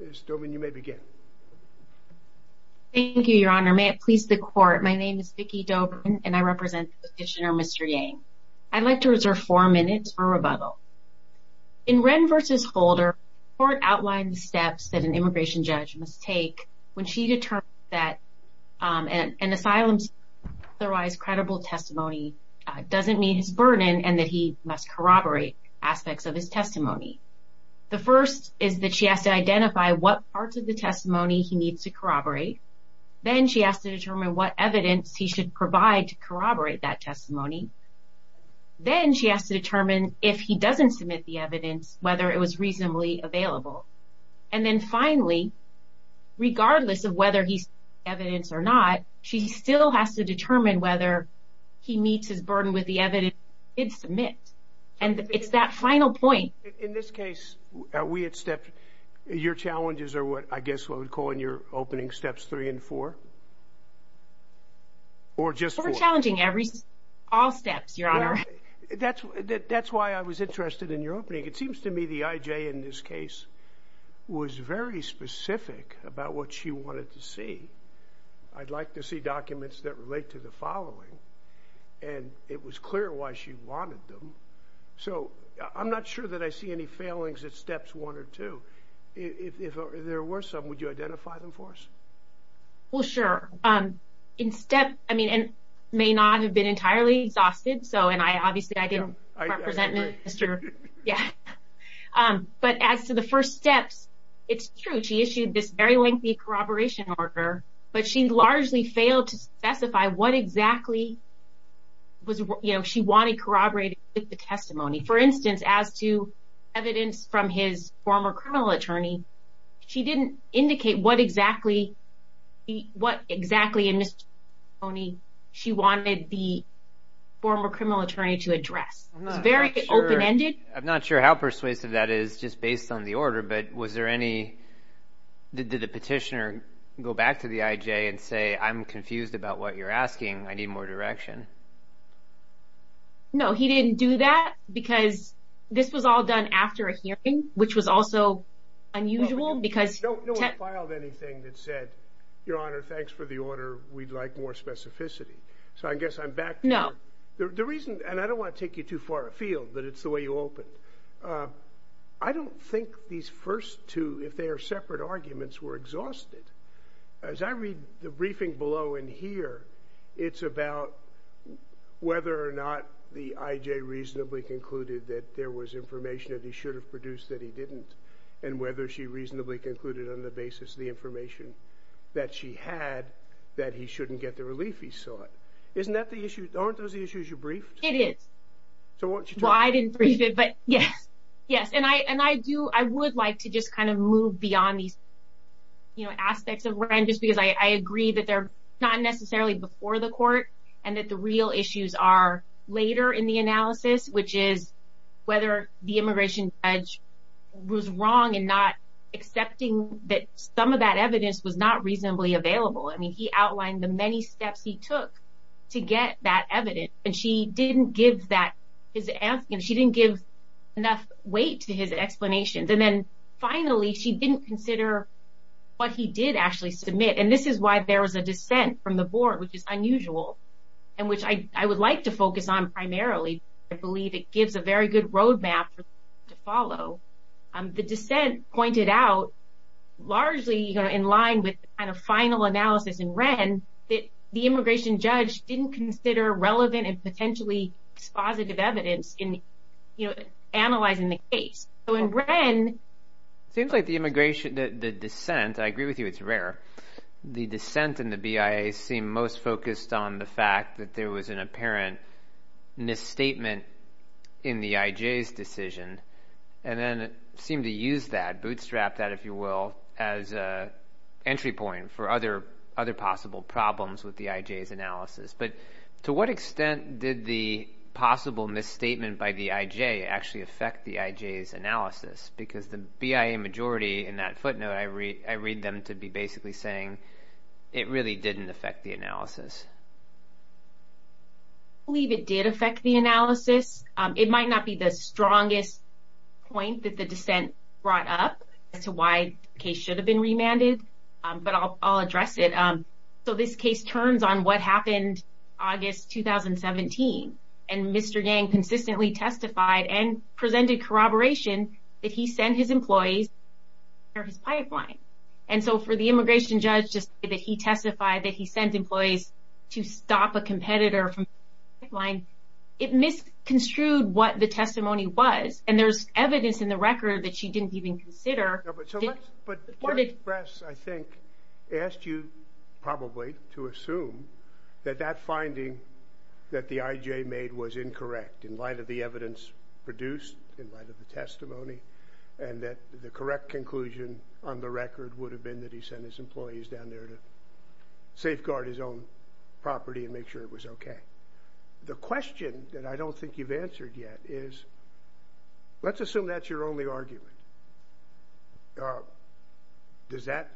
Ms. Dobren, you may begin. Thank you, your honor. May it please the court, my name is Vicky Dobren and I represent petitioner Mr. Yang. I'd like to reserve 4 minutes for rebuttal. In Wren v. Holder, the court outlined the steps that an immigration judge must take when she determines that an asylum seeker's otherwise credible testimony doesn't meet his burden and that he must corroborate aspects of his testimony. The first is that she has to identify what parts of the testimony he needs to corroborate. Then she has to determine what evidence he should provide to corroborate that testimony. Then she has to determine if he doesn't submit the evidence, whether it was reasonably available. And then finally, regardless of whether he submits the evidence or not, she still has to determine whether he meets his burden with the evidence he did submit. And it's that final point. In this case, your challenges are what I guess I would call in your opening steps 3 and 4? Or just 4? We're challenging all steps, your honor. That's why I was interested in your opening. It seems to me the I.J. in this case was very specific about what she wanted to see. I'd like to see documents that relate to the following. And it was clear why she wanted them. So I'm not sure that I see any failings at steps 1 or 2. If there were some, would you identify them for us? Well, sure. In step, I mean, and may not have been entirely exhausted. So and I obviously I didn't represent Mr. Yeah. But as to the first steps, it's true. She issued this very lengthy corroboration order, but she largely failed to specify what exactly was, you know, she wanted corroborated with the testimony. For instance, as to evidence from his former criminal attorney. She didn't indicate what exactly. What exactly in this Tony she wanted the former criminal attorney to address. It's very open ended. I'm not sure how persuasive that is just based on the order. But was there any did the petitioner go back to the I.J. and say, I'm confused about what you're asking. I need more direction. No, he didn't do that because this was all done after a hearing, which was also unusual because filed anything that said, your honor. Thanks for the order. We'd like more specificity. So I guess I'm back. No, the reason and I don't want to take you too far afield, but it's the way you open. I don't think these first two, if they are separate arguments were exhausted as I read the briefing below in here. It's about whether or not the I.J. reasonably concluded that there was information that he should have produced that he didn't. And whether she reasonably concluded on the basis of the information that she had, that he shouldn't get the relief he sought. Isn't that the issue? Aren't those the issues you briefed? It is. So why didn't you? But yes, yes. And I and I do. I would like to just kind of move beyond these aspects of where I'm just because I agree that they're not necessarily before the court and that the real issues are later in the analysis, which is whether the immigration judge was wrong and not accepting that some of that evidence was not reasonably available. I mean, he outlined the many steps he took to get that evidence. And she didn't give that is asking. She didn't give enough weight to his explanations. And then finally, she didn't consider what he did actually submit. And this is why there was a dissent from the board, which is unusual and which I would like to focus on primarily. I believe it gives a very good roadmap to follow. The dissent pointed out largely in line with kind of final analysis in Wren that the immigration judge didn't consider relevant and potentially positive evidence in analyzing the case. So in Wren. Seems like the immigration, the dissent. I agree with you. It's rare. The dissent in the BIA seem most focused on the fact that there was an apparent misstatement in the IJ's decision. And then it seemed to use that bootstrap that, if you will, as an entry point for other other possible problems with the IJ's analysis. But to what extent did the possible misstatement by the IJ actually affect the IJ's analysis? Because the BIA majority in that footnote, I read them to be basically saying it really didn't affect the analysis. I believe it did affect the analysis. It might not be the strongest point that the dissent brought up as to why the case should have been remanded. But I'll address it. So this case turns on what happened August 2017. And Mr. Yang consistently testified and presented corroboration that he sent his employees to repair his pipeline. And so for the immigration judge to say that he testified that he sent employees to stop a competitor from repairing his pipeline. It misconstrued what the testimony was. And there's evidence in the record that she didn't even consider. But the press, I think, asked you probably to assume that that finding that the IJ made was incorrect in light of the evidence produced in light of the testimony. And that the correct conclusion on the record would have been that he sent his employees down there to safeguard his own property and make sure it was OK. The question that I don't think you've answered yet is, let's assume that's your only argument. Does that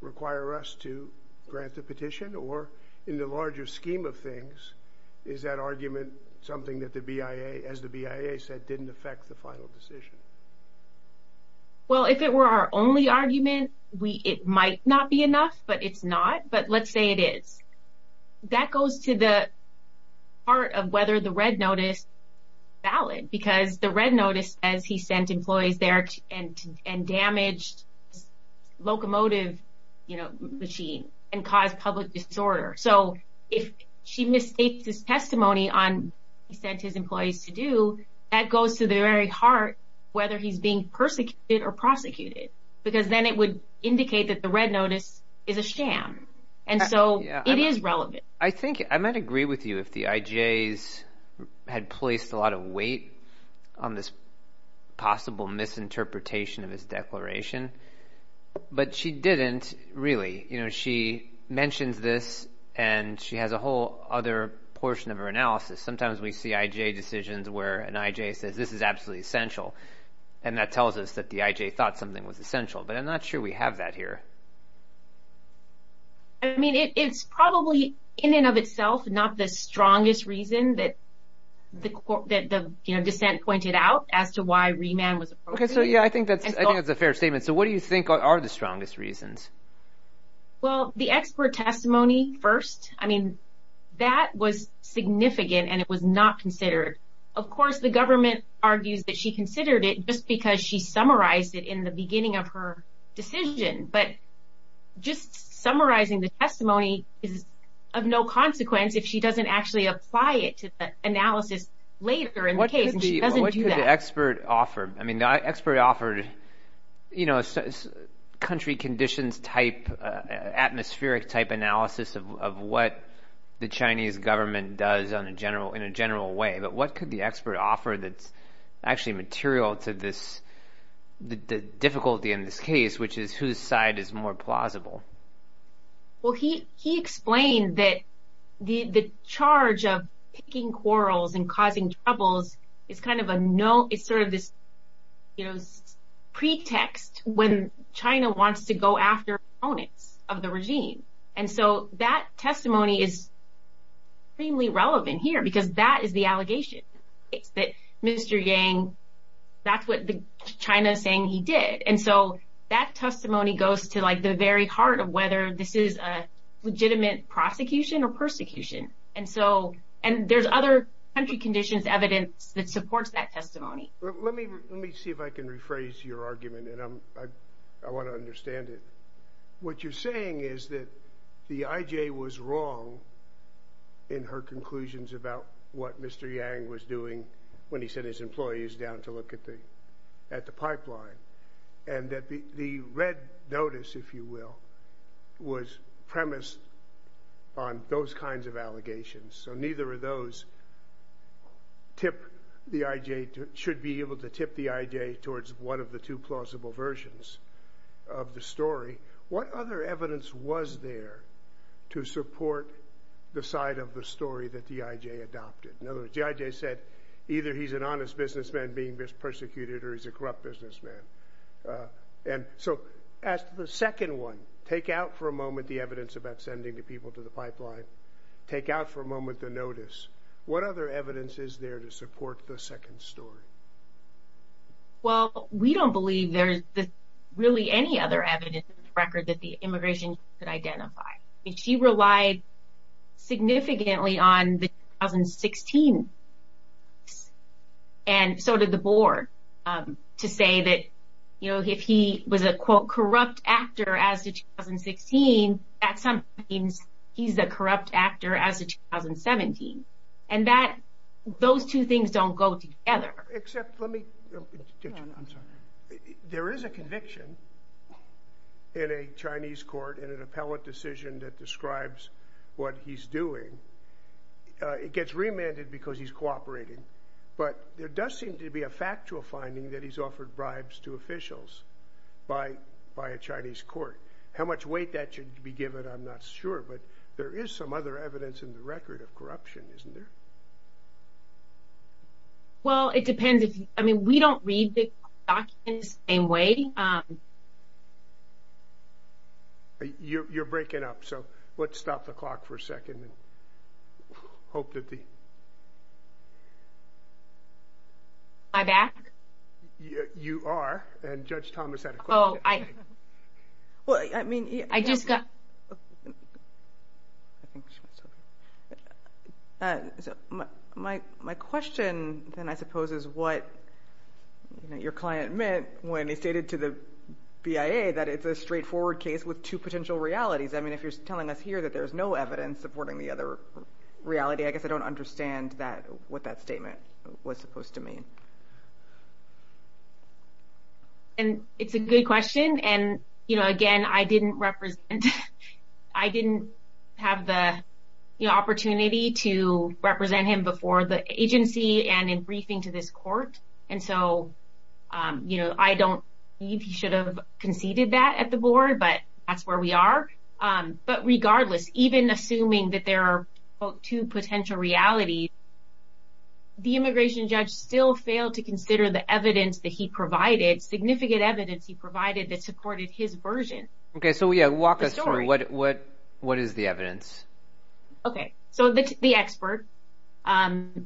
require us to grant the petition? Or in the larger scheme of things, is that argument something that the BIA, as the BIA said, didn't affect the final decision? Well, if it were our only argument, it might not be enough, but it's not. But let's say it is. That goes to the part of whether the red notice is valid. Because the red notice says he sent employees there and damaged a locomotive machine and caused public disorder. So if she mistakes his testimony on what he sent his employees to do, that goes to the very heart whether he's being persecuted or prosecuted. Because then it would indicate that the red notice is a sham. And so it is relevant. I think I might agree with you if the IJs had placed a lot of weight on this possible misinterpretation of his declaration. But she didn't really. You know, she mentions this and she has a whole other portion of her analysis. Sometimes we see IJ decisions where an IJ says this is absolutely essential. And that tells us that the IJ thought something was essential. But I'm not sure we have that here. I mean, it's probably in and of itself not the strongest reason that the dissent pointed out as to why remand was appropriate. Okay, so yeah, I think that's a fair statement. So what do you think are the strongest reasons? Well, the expert testimony first. I mean, that was significant and it was not considered. Of course, the government argues that she considered it just because she summarized it in the beginning of her decision. But just summarizing the testimony is of no consequence if she doesn't actually apply it to the analysis later in the case. And she doesn't do that. What could the expert offer? I mean, the expert offered, you know, country conditions type, atmospheric type analysis of what the Chinese government does in a general way. But what could the expert offer that's actually material to this difficulty in this case, which is whose side is more plausible? Well, he explained that the charge of picking quarrels and causing troubles is kind of a no – it's sort of this, you know, pretext when China wants to go after opponents of the regime. And so that testimony is extremely relevant here because that is the allegation. It's that Mr. Yang – that's what China is saying he did. And so that testimony goes to, like, the very heart of whether this is a legitimate prosecution or persecution. And so – and there's other country conditions evidence that supports that testimony. Let me see if I can rephrase your argument, and I want to understand it. What you're saying is that the IJ was wrong in her conclusions about what Mr. Yang was doing when he sent his employees down to look at the pipeline and that the red notice, if you will, was premised on those kinds of allegations. So neither of those tip the IJ – should be able to tip the IJ towards one of the two plausible versions of the story. What other evidence was there to support the side of the story that the IJ adopted? In other words, the IJ said either he's an honest businessman being persecuted or he's a corrupt businessman. And so as to the second one, take out for a moment the evidence about sending the people to the pipeline, take out for a moment the notice. What other evidence is there to support the second story? Well, we don't believe there's really any other evidence in the record that the immigration agency could identify. I mean, she relied significantly on the 2016 – and so did the board – to say that, you know, if he was a, quote, corrupt actor as to 2016, that sometimes he's a corrupt actor as to 2017. And that – those two things don't go together. Except let me – I'm sorry. There is a conviction in a Chinese court in an appellate decision that describes what he's doing. It gets remanded because he's cooperating. But there does seem to be a factual finding that he's offered bribes to officials by a Chinese court. How much weight that should be given, I'm not sure. But there is some other evidence in the record of corruption, isn't there? Well, it depends. I mean, we don't read the documents the same way. You're breaking up, so let's stop the clock for a second and hope that the – Am I back? You are. And Judge Thomas had a question. Oh, I – Well, I mean – I just got – So my question, then, I suppose, is what your client meant when he stated to the BIA that it's a straightforward case with two potential realities. I mean, if you're telling us here that there's no evidence supporting the other reality, I guess I don't understand that – what that statement was supposed to mean. And it's a good question. And, you know, again, I didn't represent – I didn't have the opportunity to represent him before the agency and in briefing to this court. And so, you know, I don't believe he should have conceded that at the board, but that's where we are. But regardless, even assuming that there are, quote, two potential realities, the immigration judge still failed to consider the evidence that he provided, significant evidence he provided that supported his version of the story. Okay. So, yeah, walk us through. What is the evidence? Okay. So the expert, the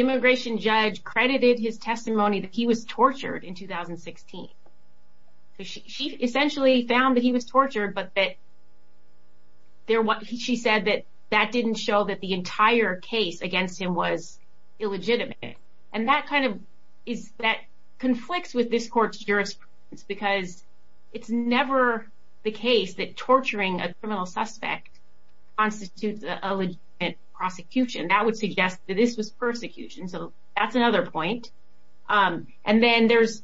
immigration judge credited his testimony that he was tortured in 2016. So she essentially found that he was tortured, but that – she said that that didn't show that the entire case against him was illegitimate. And that kind of is – that conflicts with this court's jurisprudence, because it's never the case that torturing a criminal suspect constitutes a legitimate prosecution. That would suggest that this was persecution. So that's another point. And then there's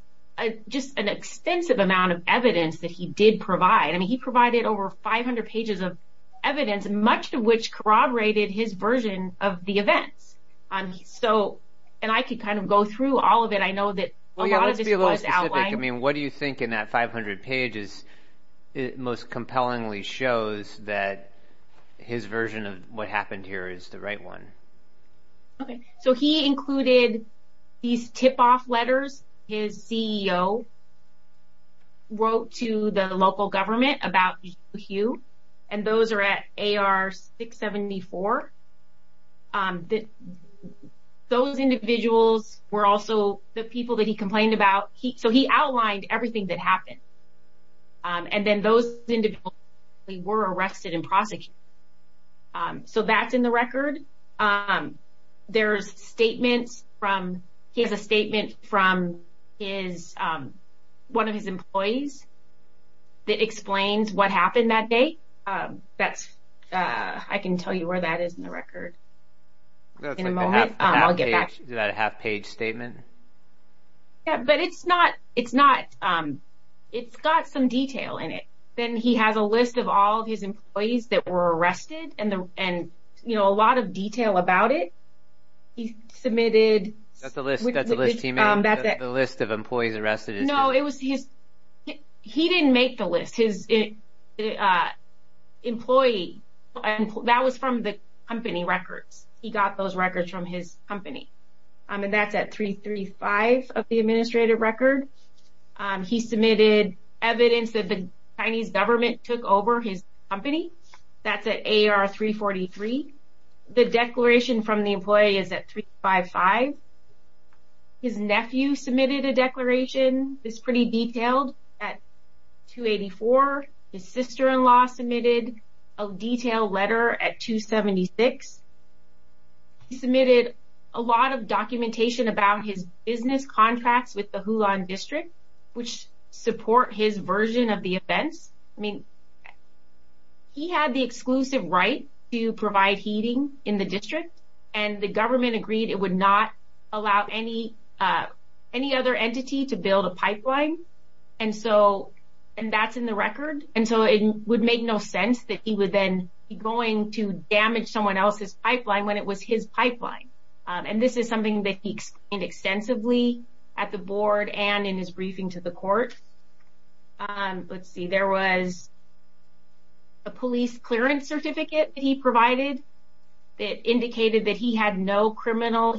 just an extensive amount of evidence that he did provide. I mean, he provided over 500 pages of evidence, much of which corroborated his version of the events. So – and I could kind of go through all of it. I know that a lot of this was outlined. Well, yeah, let's be a little specific. I mean, what do you think in that 500 pages most compellingly shows that his version of what happened here is the right one? Okay. So he included these tip-off letters his CEO wrote to the local government about Zhu Hu, and those are at AR 674. Those individuals were also the people that he complained about. So he outlined everything that happened. And then those individuals were arrested and prosecuted. So that's in the record. There's statements from – he has a statement from his – one of his employees that explains what happened that day. That's – I can tell you where that is in the record in a moment. I'll get back to you. Is that a half-page statement? Yeah, but it's not – it's not – it's got some detail in it. Then he has a list of all of his employees that were arrested and, you know, a lot of detail about it. He submitted – That's a list he made. That's a list of employees arrested. No, it was his – he didn't make the list. His employee – that was from the company records. He got those records from his company. And that's at 335 of the administrative record. He submitted evidence that the Chinese government took over his company. That's at AR 343. The declaration from the employee is at 355. His nephew submitted a declaration. It's pretty detailed at 284. His sister-in-law submitted a detailed letter at 276. He submitted a lot of documentation about his business contracts with the Hulan District, which support his version of the events. I mean, he had the exclusive right to provide heating in the district, and the government agreed it would not allow any other entity to build a pipeline. And so it would make no sense that he would then be going to damage someone else's pipeline when it was his pipeline. And this is something that he explained extensively at the board and in his briefing to the court. Let's see. There was a police clearance certificate that he provided that indicated that he had no criminal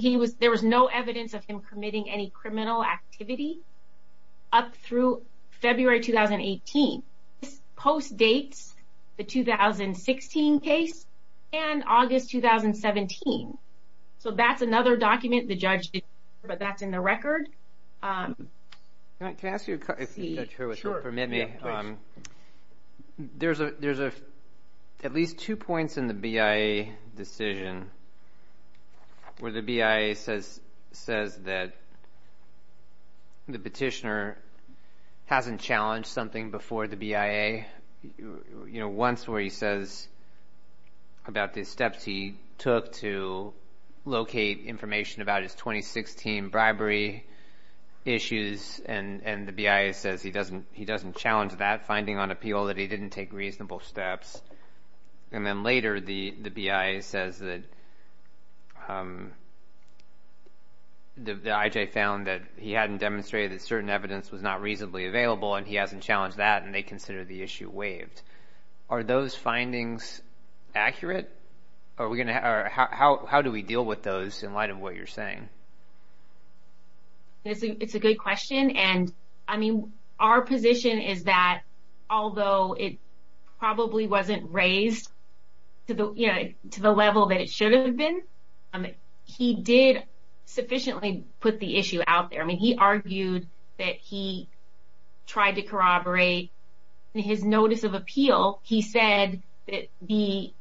– post-dates, the 2016 case, and August 2017. So that's another document the judge did, but that's in the record. Can I ask you a question, Judge Hurwitz, if you'll permit me? There's at least two points in the BIA decision where the BIA says that the petitioner hasn't challenged something before the BIA, you know, once where he says about the steps he took to locate information about his 2016 bribery issues, and the BIA says he doesn't challenge that finding on appeal, that he didn't take reasonable steps. And then later the BIA says that the IJ found that he hadn't demonstrated that certain evidence was not reasonably available and he hasn't challenged that, and they consider the issue waived. Are those findings accurate? How do we deal with those in light of what you're saying? It's a good question. And, I mean, our position is that although it probably wasn't raised to the level that it should have been, he did sufficiently put the issue out there. I mean, he argued that he tried to corroborate his notice of appeal. He said that the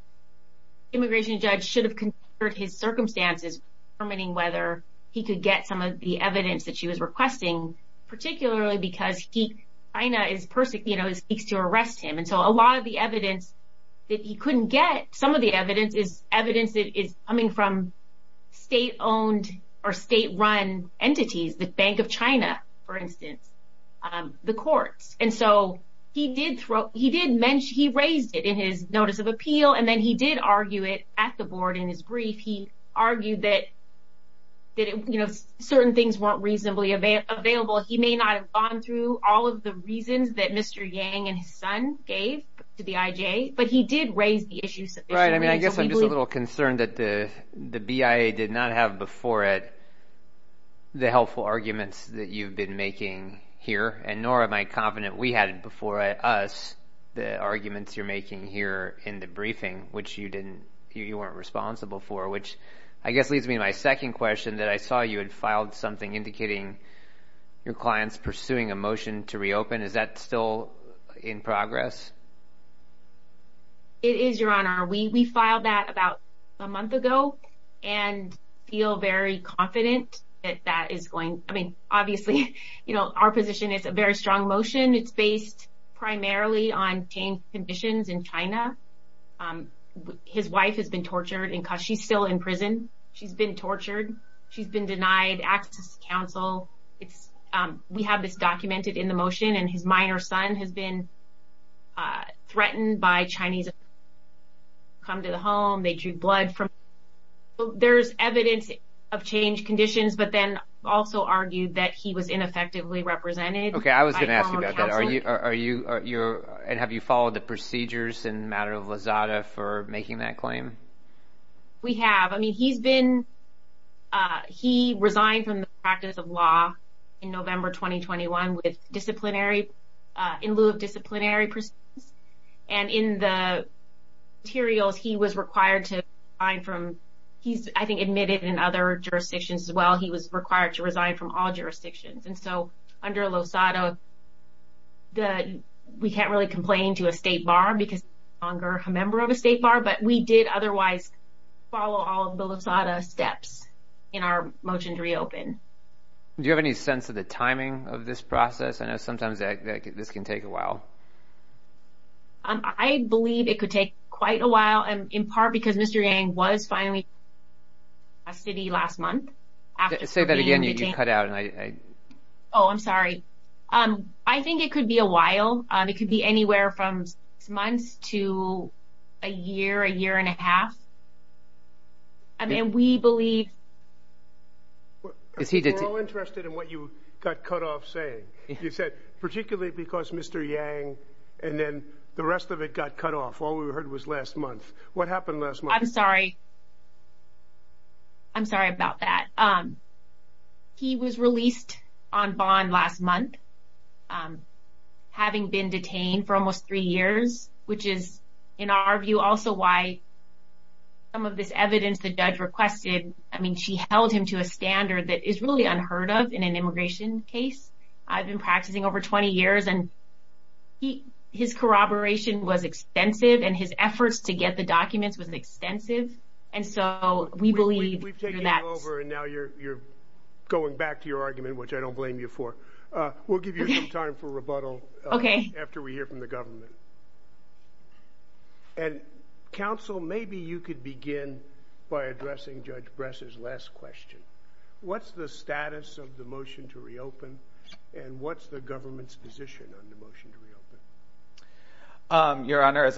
immigration judge should have considered his circumstances, determining whether he could get some of the evidence that she was requesting, particularly because China is, you know, seeks to arrest him. And so a lot of the evidence that he couldn't get, some of the evidence is evidence that is coming from state-owned or state-run entities, the Bank of China, for instance, the courts. And so he did mention, he raised it in his notice of appeal, and then he did argue it at the board in his brief. He argued that, you know, certain things weren't reasonably available. He may not have gone through all of the reasons that Mr. Yang and his son gave to the IJ, but he did raise the issue sufficiently. Right, I mean, I guess I'm just a little concerned that the BIA did not have before it the helpful arguments that you've been making here, and nor am I confident we had before us the arguments you're making here in the briefing, which you didn't, you weren't responsible for, which I guess leads me to my second question, that I saw you had filed something indicating your client's pursuing a motion to reopen. Is that still in progress? It is, Your Honor. We filed that about a month ago and feel very confident that that is going, I mean, obviously, you know, our position is a very strong motion. It's based primarily on conditions in China. His wife has been tortured and she's still in prison. She's been tortured. She's been denied access to counsel. We have this documented in the motion, and his minor son has been threatened by Chinese. Come to the home. They drew blood from him. There's evidence of changed conditions, but then also argued that he was ineffectively represented. Okay, I was going to ask you about that. And have you followed the procedures in the matter of Lizada for making that claim? We have. I mean, he's been, he resigned from the practice of law in November 2021 with disciplinary, in lieu of disciplinary proceedings. And in the materials, he was required to resign from, he's, I think, admitted in other jurisdictions as well, he was required to resign from all jurisdictions. And so under Lizada, we can't really complain to a state bar because he's no longer a member of a state bar, but we did otherwise follow all of the Lizada steps in our motion to reopen. Do you have any sense of the timing of this process? I know sometimes this can take a while. I believe it could take quite a while, in part because Mr. Yang was finally released from custody last month. Say that again, you cut out. Oh, I'm sorry. I think it could be a while. It could be anywhere from six months to a year, a year and a half. I mean, we believe. We're all interested in what you got cut off saying. You said particularly because Mr. Yang and then the rest of it got cut off. All we heard was last month. What happened last month? I'm sorry. I'm sorry about that. He was released on bond last month, having been detained for almost three years, which is, in our view, also why some of this evidence the judge requested. I mean, she held him to a standard that is really unheard of in an immigration case. I've been practicing over 20 years, and his corroboration was extensive, and his efforts to get the documents was extensive. We've taken it over, and now you're going back to your argument, which I don't blame you for. We'll give you some time for rebuttal after we hear from the government. Counsel, maybe you could begin by addressing Judge Bress's last question. What's the status of the motion to reopen, and what's the government's position on the motion to reopen? Your Honor,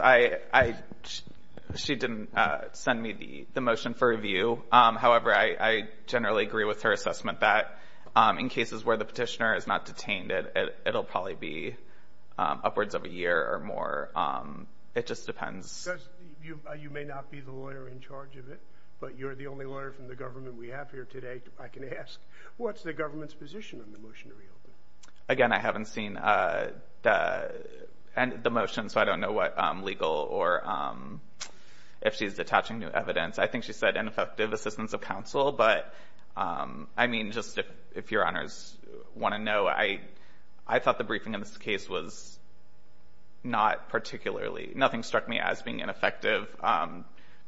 she didn't send me the motion for review. However, I generally agree with her assessment that, in cases where the petitioner is not detained, it will probably be upwards of a year or more. It just depends. You may not be the lawyer in charge of it, but you're the only lawyer from the government we have here today I can ask. What's the government's position on the motion to reopen? Again, I haven't seen the motion, so I don't know what legal or if she's attaching new evidence. I think she said ineffective assistance of counsel. But, I mean, just if Your Honors want to know, I thought the briefing in this case was not particularly. Nothing struck me as being ineffective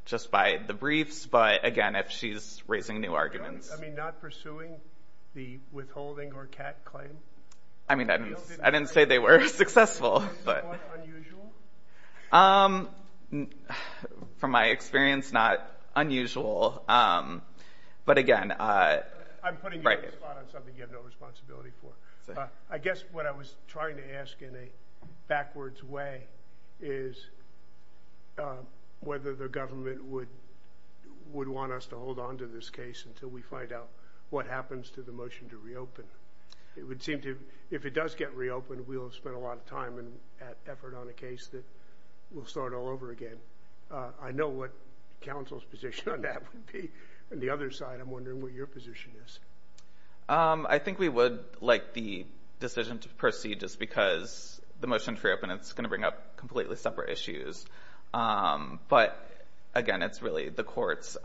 just by the briefs. But, again, if she's raising new arguments. I mean, not pursuing the withholding or CAT claim? I mean, I didn't say they were successful. Unusual? From my experience, not unusual. But, again, right. I'm putting you on the spot on something you have no responsibility for. I guess what I was trying to ask in a backwards way is whether the government would want us to hold on to this case until we find out what happens to the motion to reopen. It would seem to, if it does get reopened, we'll have spent a lot of time and effort on a case that we'll start all over again. I know what counsel's position on that would be. On the other side, I'm wondering what your position is. I think we would like the decision to proceed just because the motion to reopen, it's going to bring up completely separate issues. But, again, it's really the courts.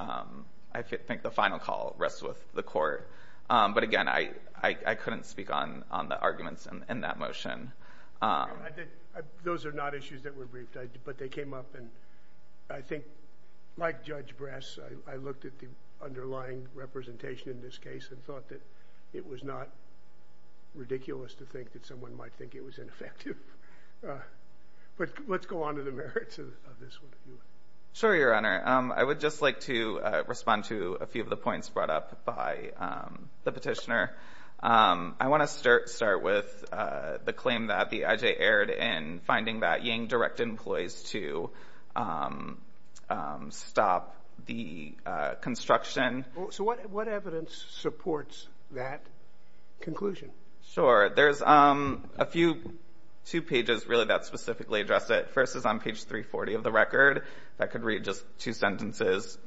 I think the final call rests with the court. But, again, I couldn't speak on the arguments in that motion. Those are not issues that were briefed. But they came up, and I think, like Judge Brass, I looked at the underlying representation in this case and thought that it was not ridiculous to think that someone might think it was ineffective. But let's go on to the merits of this one. Sure, Your Honor. I would just like to respond to a few of the points brought up by the petitioner. I want to start with the claim that the I.J. aired in finding that Yang directed employees to stop the construction. So what evidence supports that conclusion? Sure. There's a few, two pages really that specifically address it. First is on page 340 of the record. If I could read just two sentences.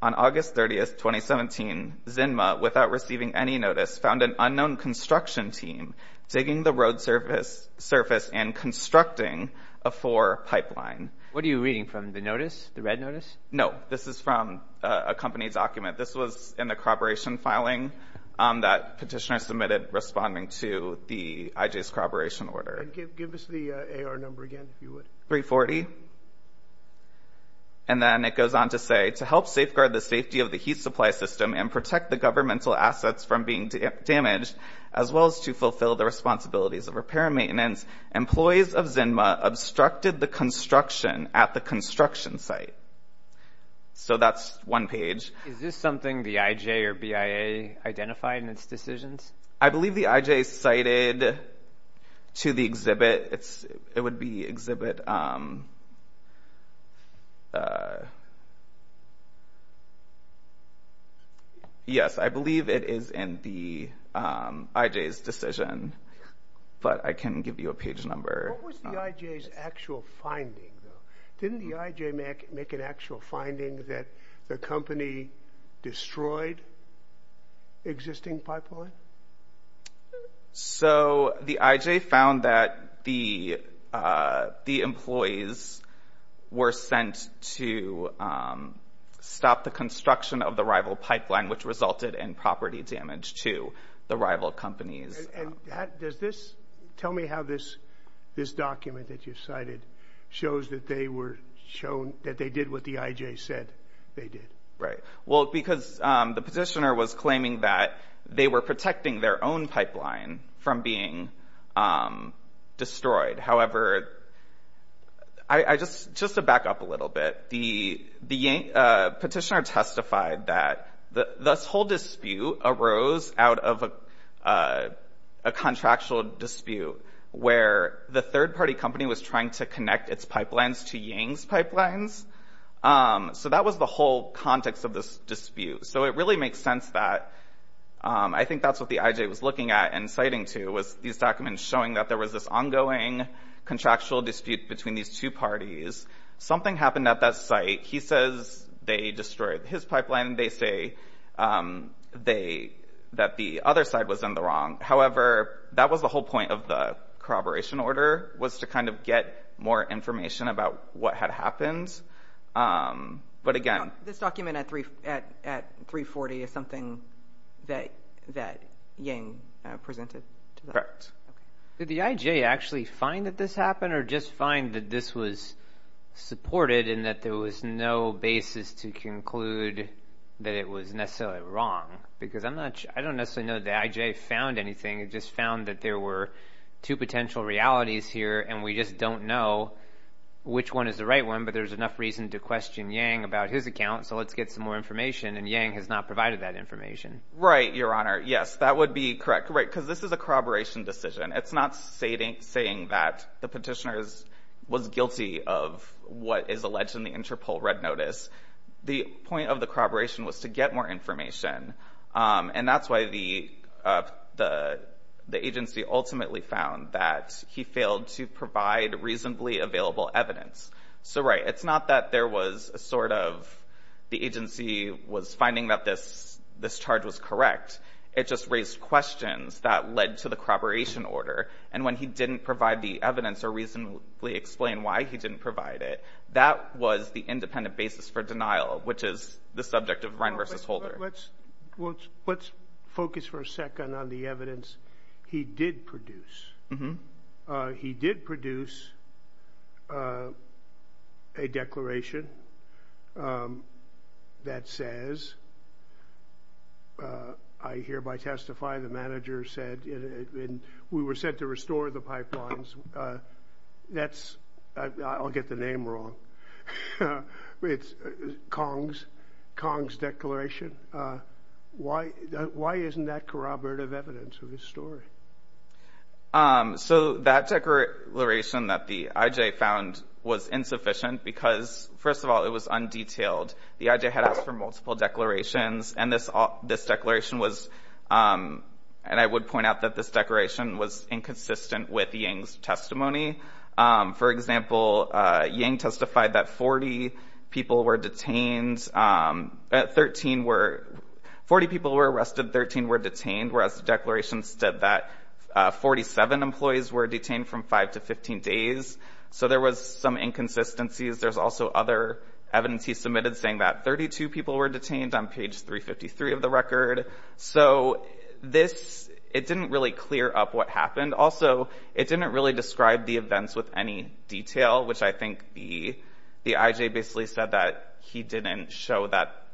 On August 30, 2017, Zinma, without receiving any notice, found an unknown construction team digging the road surface and constructing a four pipeline. What are you reading from, the notice, the red notice? No. This is from a company document. This was in the corroboration filing that petitioner submitted responding to the I.J.'s corroboration order. Give us the AR number again, if you would. 340. And then it goes on to say, to help safeguard the safety of the heat supply system and protect the governmental assets from being damaged, as well as to fulfill the responsibilities of repair and maintenance, employees of Zinma obstructed the construction at the construction site. So that's one page. Is this something the I.J. or BIA identified in its decisions? I believe the I.J. cited to the exhibit. It would be exhibit. Yes, I believe it is in the I.J.'s decision, but I can give you a page number. What was the I.J.'s actual finding, though? Didn't the I.J. make an actual finding that the company destroyed existing pipeline? So the I.J. found that the employees were sent to stop the construction of the rival pipeline, which resulted in property damage to the rival companies. Tell me how this document that you cited shows that they did what the I.J. said they did. Because the petitioner was claiming that they were protecting their own pipeline from being destroyed. However, just to back up a little bit, the petitioner testified that this whole dispute arose out of a contractual dispute where the third-party company was trying to connect its pipelines to Yang's pipelines. So that was the whole context of this dispute. So it really makes sense that I think that's what the I.J. was looking at and citing to, was these documents showing that there was this ongoing contractual dispute between these two parties. Something happened at that site. He says they destroyed his pipeline. They say that the other side was in the wrong. However, that was the whole point of the corroboration order, was to kind of get more information about what had happened. This document at 340 is something that Yang presented to them? Correct. Did the I.J. actually find that this happened or just find that this was supported and that there was no basis to conclude that it was necessarily wrong? Because I don't necessarily know that the I.J. found anything. It just found that there were two potential realities here, and we just don't know which one is the right one, but there's enough reason to question Yang about his account, so let's get some more information, and Yang has not provided that information. Right, Your Honor. Yes, that would be correct. Because this is a corroboration decision. It's not saying that the petitioner was guilty of what is alleged in the Interpol red notice. The point of the corroboration was to get more information, and that's why the agency ultimately found that he failed to provide reasonably available evidence. So, right, it's not that there was a sort of the agency was finding that this charge was correct. It just raised questions that led to the corroboration order, and when he didn't provide the evidence or reasonably explain why he didn't provide it, that was the independent basis for denial, which is the subject of Wren v. Holder. Let's focus for a second on the evidence he did produce. He did produce a declaration that says, I hereby testify the manager said, and we were sent to restore the pipelines. That's, I'll get the name wrong. It's Kong's declaration. Why isn't that corroborative evidence of his story? So that declaration that the IJ found was insufficient because, first of all, it was undetailed. The IJ had asked for multiple declarations, and this declaration was, and I would point out that this declaration was inconsistent with Yang's testimony. For example, Yang testified that 40 people were detained, 13 were, 40 people were arrested, 13 were detained, whereas the declaration said that 47 employees were detained from 5 to 15 days. So there was some inconsistencies. There's also other evidence he submitted saying that 32 people were detained on page 353 of the record. So this, it didn't really clear up what happened. And also, it didn't really describe the events with any detail, which I think the IJ basically said that he didn't show that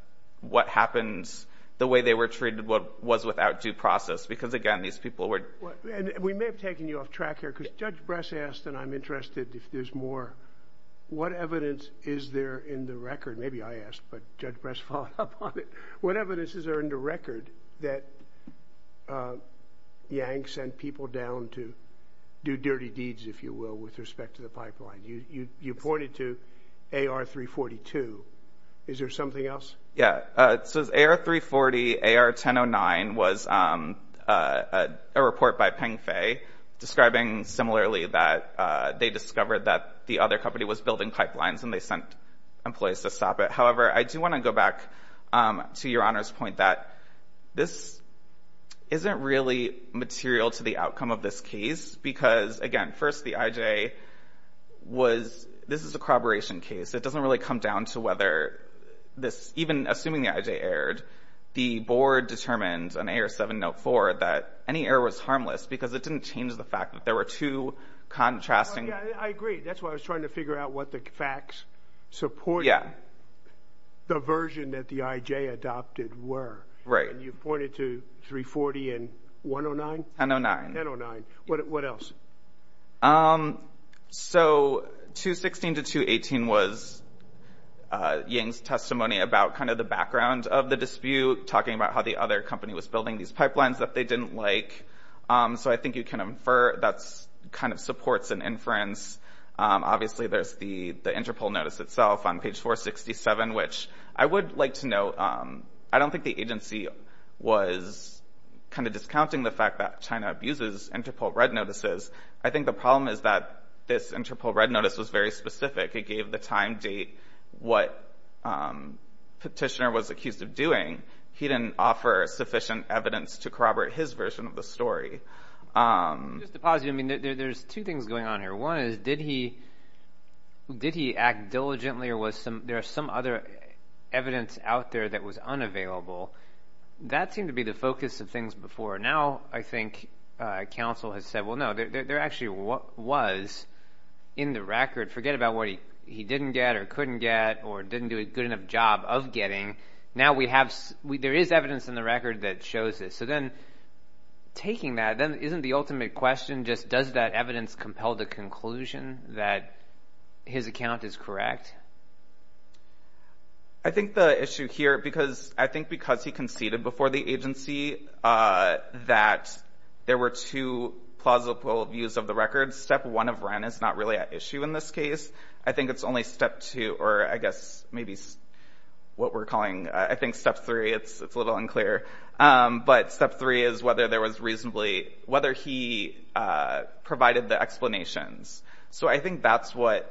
what happened, the way they were treated was without due process because, again, these people were. And we may have taken you off track here because Judge Bress asked, and I'm interested if there's more, what evidence is there in the record? Maybe I asked, but Judge Bress followed up on it. What evidence is there in the record that Yang sent people down to do dirty deeds, if you will, with respect to the pipeline? You pointed to AR-342. Is there something else? Yeah. It says AR-340, AR-1009 was a report by Pengfei describing similarly that they discovered that the other company was building pipelines and they sent employees to stop it. However, I do want to go back to Your Honor's point that this isn't really material to the outcome of this case because, again, first the IJ was, this is a corroboration case. It doesn't really come down to whether this, even assuming the IJ erred, the board determined on AR-704 that any error was harmless because it didn't change the fact that there were two contrasting. I agree. That's why I was trying to figure out what the facts support. Yeah. The version that the IJ adopted were. Right. And you pointed to 340 and 1009? 1009. 1009. What else? So 216 to 218 was Yang's testimony about kind of the background of the dispute, talking about how the other company was building these pipelines that they didn't like. So I think you can infer that kind of supports an inference. Obviously there's the Interpol notice itself on page 467, which I would like to note, I don't think the agency was kind of discounting the fact that China abuses Interpol red notices. I think the problem is that this Interpol red notice was very specific. It gave the time, date, what Petitioner was accused of doing. He didn't offer sufficient evidence to corroborate his version of the story. Just to pause you, I mean, there's two things going on here. One is, did he act diligently or was there some other evidence out there that was unavailable? That seemed to be the focus of things before. Now I think counsel has said, well, no, there actually was in the record. Forget about what he didn't get or couldn't get or didn't do a good enough job of getting. Now we have, there is evidence in the record that shows this. So then taking that, then isn't the ultimate question just does that evidence compel the conclusion that his account is correct? I think the issue here, because I think because he conceded before the agency that there were two plausible views of the record, step one of REN is not really an issue in this case. I think it's only step two, or I guess maybe what we're calling, I think step three, it's a little unclear. But step three is whether there was reasonably, whether he provided the explanations. So I think that's what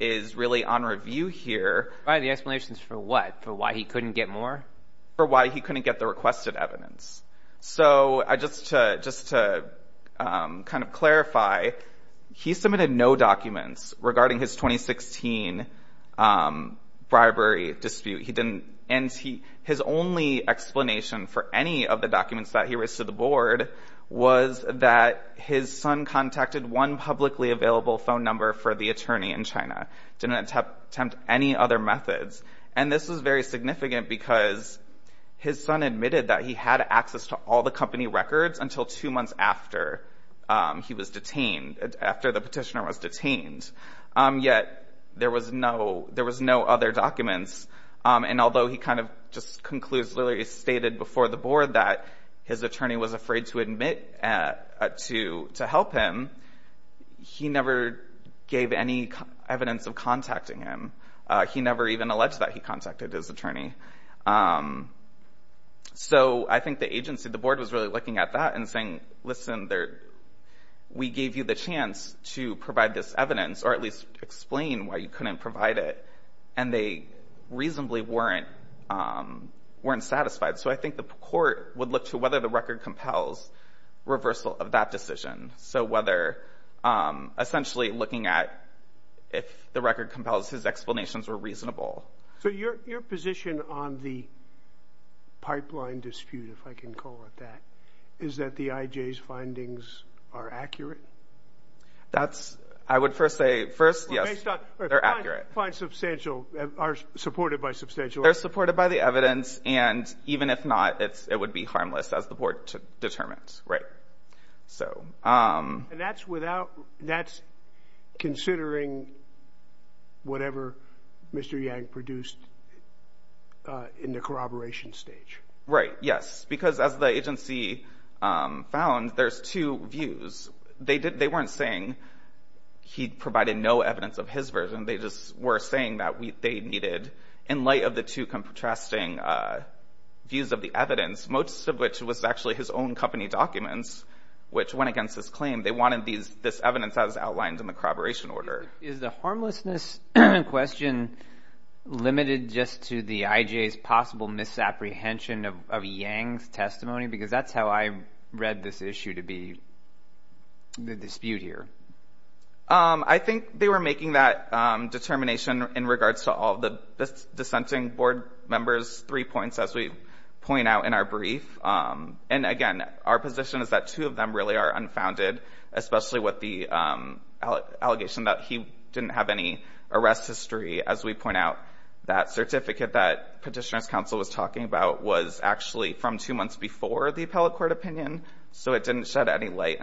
is really on review here. Provided the explanations for what? For why he couldn't get more? For why he couldn't get the requested evidence. So just to kind of clarify, he submitted no documents regarding his 2016 bribery dispute. And his only explanation for any of the documents that he raised to the board was that his son contacted one publicly available phone number for the attorney in China. Didn't attempt any other methods. And this was very significant because his son admitted that he had access to all the company records until two months after he was detained, after the petitioner was detained. Yet there was no other documents. And although he kind of just conclusively stated before the board that his attorney was afraid to admit to help him, he never gave any evidence of contacting him. He never even alleged that he contacted his attorney. So I think the agency, the board, was really looking at that and saying, listen, we gave you the chance to provide this evidence or at least explain why you couldn't provide it. And they reasonably weren't satisfied. So I think the court would look to whether the record compels reversal of that decision. So whether essentially looking at if the record compels his explanations were reasonable. So your position on the pipeline dispute, if I can call it that, is that the IJ's findings are accurate. That's I would first say first. Yes, they're accurate. Find substantial are supported by substantial. They're supported by the evidence. And even if not, it's it would be harmless as the board determines. Right. So that's without that's considering whatever Mr. Yang produced in the corroboration stage. Right. Yes. Because as the agency found, there's two views. They did. They weren't saying he provided no evidence of his version. They just were saying that they needed in light of the two contrasting views of the evidence, most of which was actually his own company documents, which went against his claim. They wanted these this evidence as outlined in the corroboration order. Is the harmlessness question limited just to the IJ's possible misapprehension of Yang's testimony? Because that's how I read this issue to be. The dispute here. I think they were making that determination in regards to all the dissenting board members. Three points, as we point out in our brief. And again, our position is that two of them really are unfounded, especially with the allegation that he didn't have any arrest history. As we point out, that certificate that Petitioner's Counsel was talking about was actually from two months before the appellate court opinion. So it didn't shed any light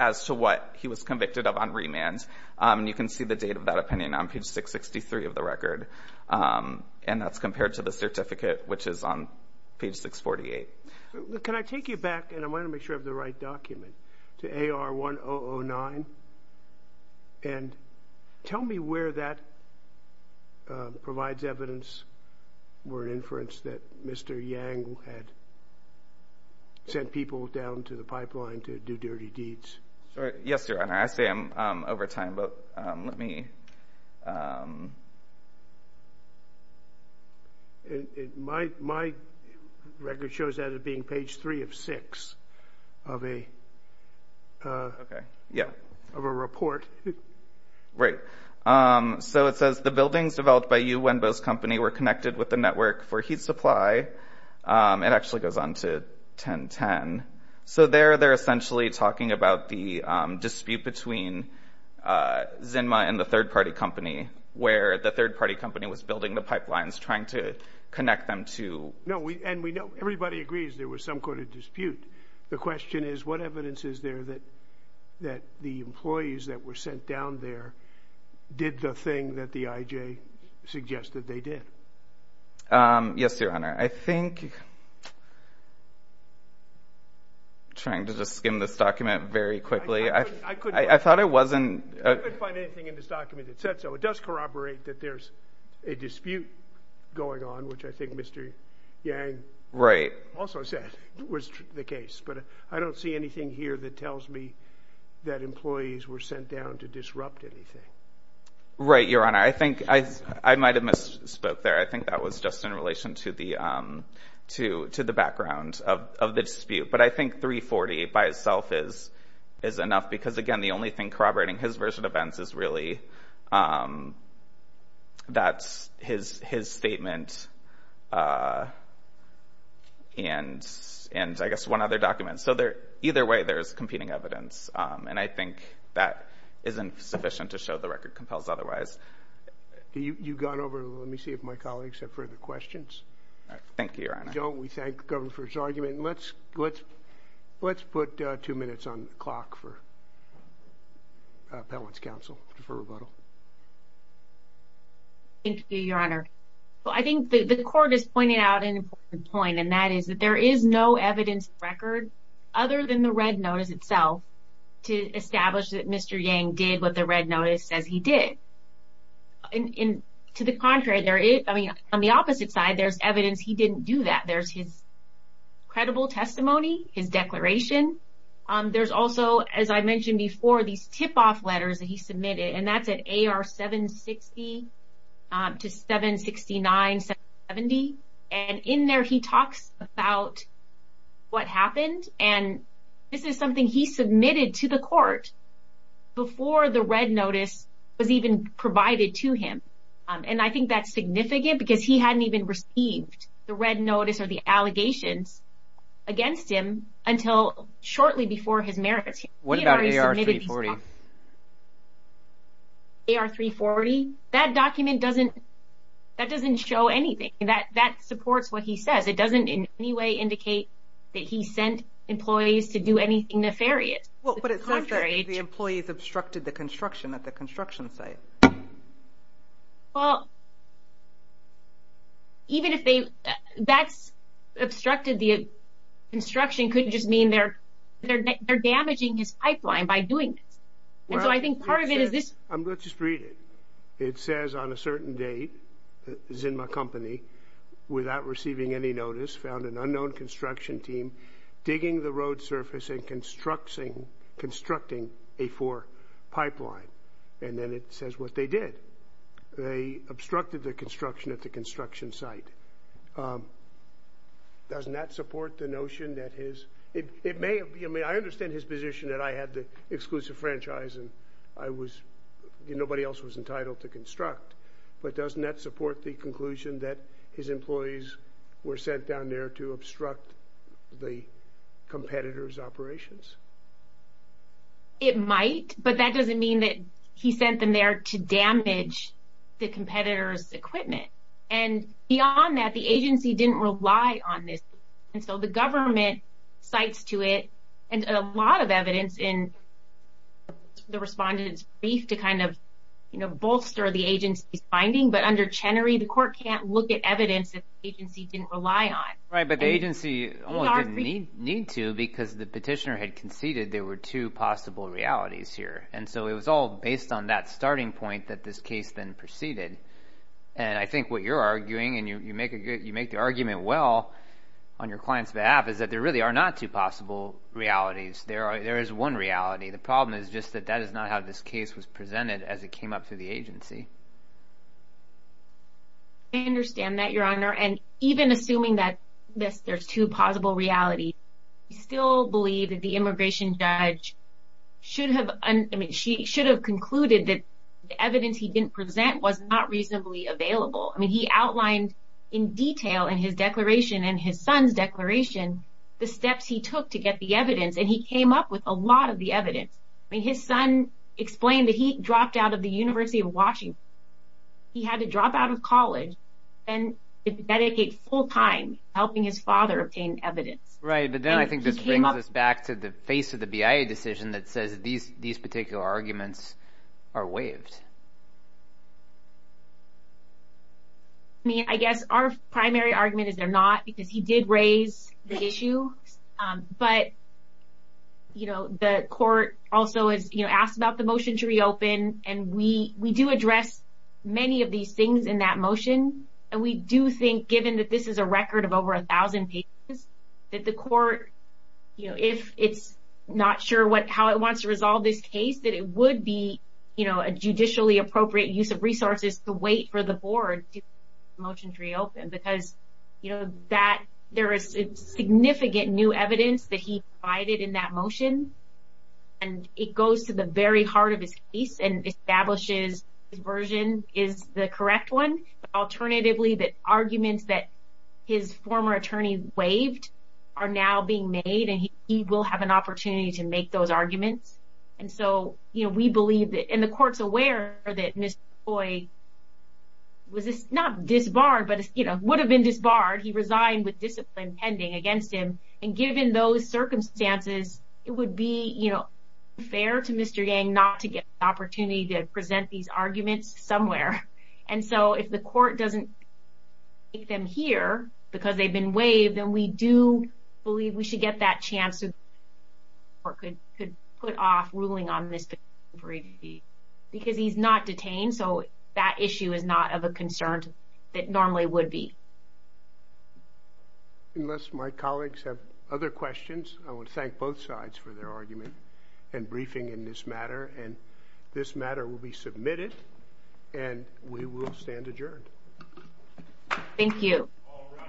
as to what he was convicted of on remand. And you can see the date of that opinion on page 663 of the record. And that's compared to the certificate, which is on page 648. Can I take you back, and I want to make sure I have the right document, to AR1009? And tell me where that provides evidence or inference that Mr. Yang had sent people down to the pipeline to do dirty deeds. Yes, Your Honor. I say I'm over time, but let me. My record shows that as being page 3 of 6 of a report. Right. So it says, the buildings developed by Yu Wenbo's company were connected with the network for heat supply. It actually goes on to 1010. So there they're essentially talking about the dispute between Zinma and the third-party company, where the third-party company was building the pipelines, trying to connect them to. No, and everybody agrees there was some sort of dispute. The question is, what evidence is there that the employees that were sent down there did the thing that the IJ suggested they did? Yes, Your Honor. I think I'm trying to just skim this document very quickly. I couldn't find anything in this document that said so. It does corroborate that there's a dispute going on, which I think Mr. Yang also said was the case. But I don't see anything here that tells me that employees were sent down to disrupt anything. Right, Your Honor. I think I might have misspoke there. I think that was just in relation to the background of the dispute. But I think 340 by itself is enough because, again, the only thing corroborating his version of events is really that's his statement and, I guess, one other document. So either way, there's competing evidence, and I think that isn't sufficient to show the record compels otherwise. You've gone over. Let me see if my colleagues have further questions. Thank you, Your Honor. We thank the government for its argument. Let's put two minutes on the clock for appellant's counsel for rebuttal. Thank you, Your Honor. I think the court is pointing out an important point, and that is that there is no evidence record other than the red notice itself to establish that Mr. Redd noticed as he did. To the contrary, I mean, on the opposite side, there's evidence he didn't do that. There's his credible testimony, his declaration. There's also, as I mentioned before, these tip-off letters that he submitted, and that's at AR-760 to 769-70. And in there, he talks about what happened, and this is something he submitted to the court before the red notice was even provided to him. And I think that's significant because he hadn't even received the red notice or the allegations against him until shortly before his merits hearing. What about AR-340? AR-340? That document doesn't show anything. That supports what he says. It doesn't in any way indicate that he sent employees to do anything nefarious. Well, but it says that the employees obstructed the construction at the construction site. Well, even if that's obstructed the construction, it could just mean they're damaging his pipeline by doing this. And so I think part of it is this. Let's just read it. It says, on a certain date, Zinma Company, without receiving any notice, found an unknown construction team digging the road surface and constructing a four pipeline. And then it says what they did. They obstructed the construction at the construction site. Doesn't that support the notion that his – it may – I mean, I understand his position that I had the exclusive franchise and I was – nobody else was entitled to construct. But doesn't that support the conclusion that his employees were sent down there to obstruct the competitors' operations? It might, but that doesn't mean that he sent them there to damage the competitors' equipment. And beyond that, the agency didn't rely on this. And so the government cites to it a lot of evidence in the respondent's brief to kind of, you know, bolster the agency's finding. But under Chenery, the court can't look at evidence that the agency didn't rely on. Right, but the agency only didn't need to because the petitioner had conceded there were two possible realities here. And so it was all based on that starting point that this case then proceeded. And I think what you're arguing, and you make the argument well on your client's behalf, is that there really are not two possible realities. There is one reality. The problem is just that that is not how this case was presented as it came up through the agency. I understand that, Your Honor. And even assuming that there's two possible realities, I still believe that the immigration judge should have concluded that the evidence he didn't present was not reasonably available. I mean, he outlined in detail in his declaration and his son's declaration the steps he took to get the evidence. And he came up with a lot of the evidence. I mean, his son explained that he dropped out of the University of Washington. He had to drop out of college. And he had to dedicate full time helping his father obtain evidence. Right, but then I think this brings us back to the face of the BIA decision that says these particular arguments are waived. I mean, I guess our primary argument is they're not because he did raise the issue. But, you know, the court also has asked about the motion to reopen. And we do address many of these things in that motion. And we do think, given that this is a record of over 1,000 pages, that the court, you know, if it's not sure how it wants to resolve this case, that it would be, you know, a judicially appropriate use of resources to wait for the board to motion to reopen. Because, you know, there is significant new evidence that he provided in that motion. And it goes to the very heart of his case and establishes his version is the correct one. Alternatively, the arguments that his former attorney waived are now being made. And he will have an opportunity to make those arguments. And so, you know, we believe that, and the court's aware that Mr. Choi was not disbarred, but, you know, would have been disbarred. He resigned with discipline pending against him. And given those circumstances, it would be, you know, fair to Mr. Yang not to get the opportunity to present these arguments somewhere. And so if the court doesn't take them here because they've been waived, then we do believe we should get that chance so the court could put off ruling on Mr. Choi because he's not detained. So that issue is not of a concern that normally would be. Unless my colleagues have other questions, I would thank both sides for their argument and briefing in this matter. And this matter will be submitted, and we will stand adjourned. Thank you. All rise. This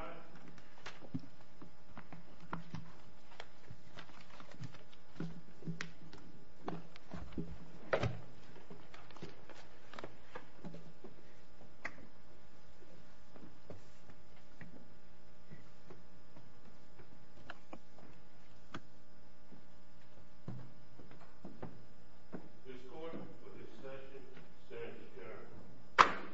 court for this session stands adjourned.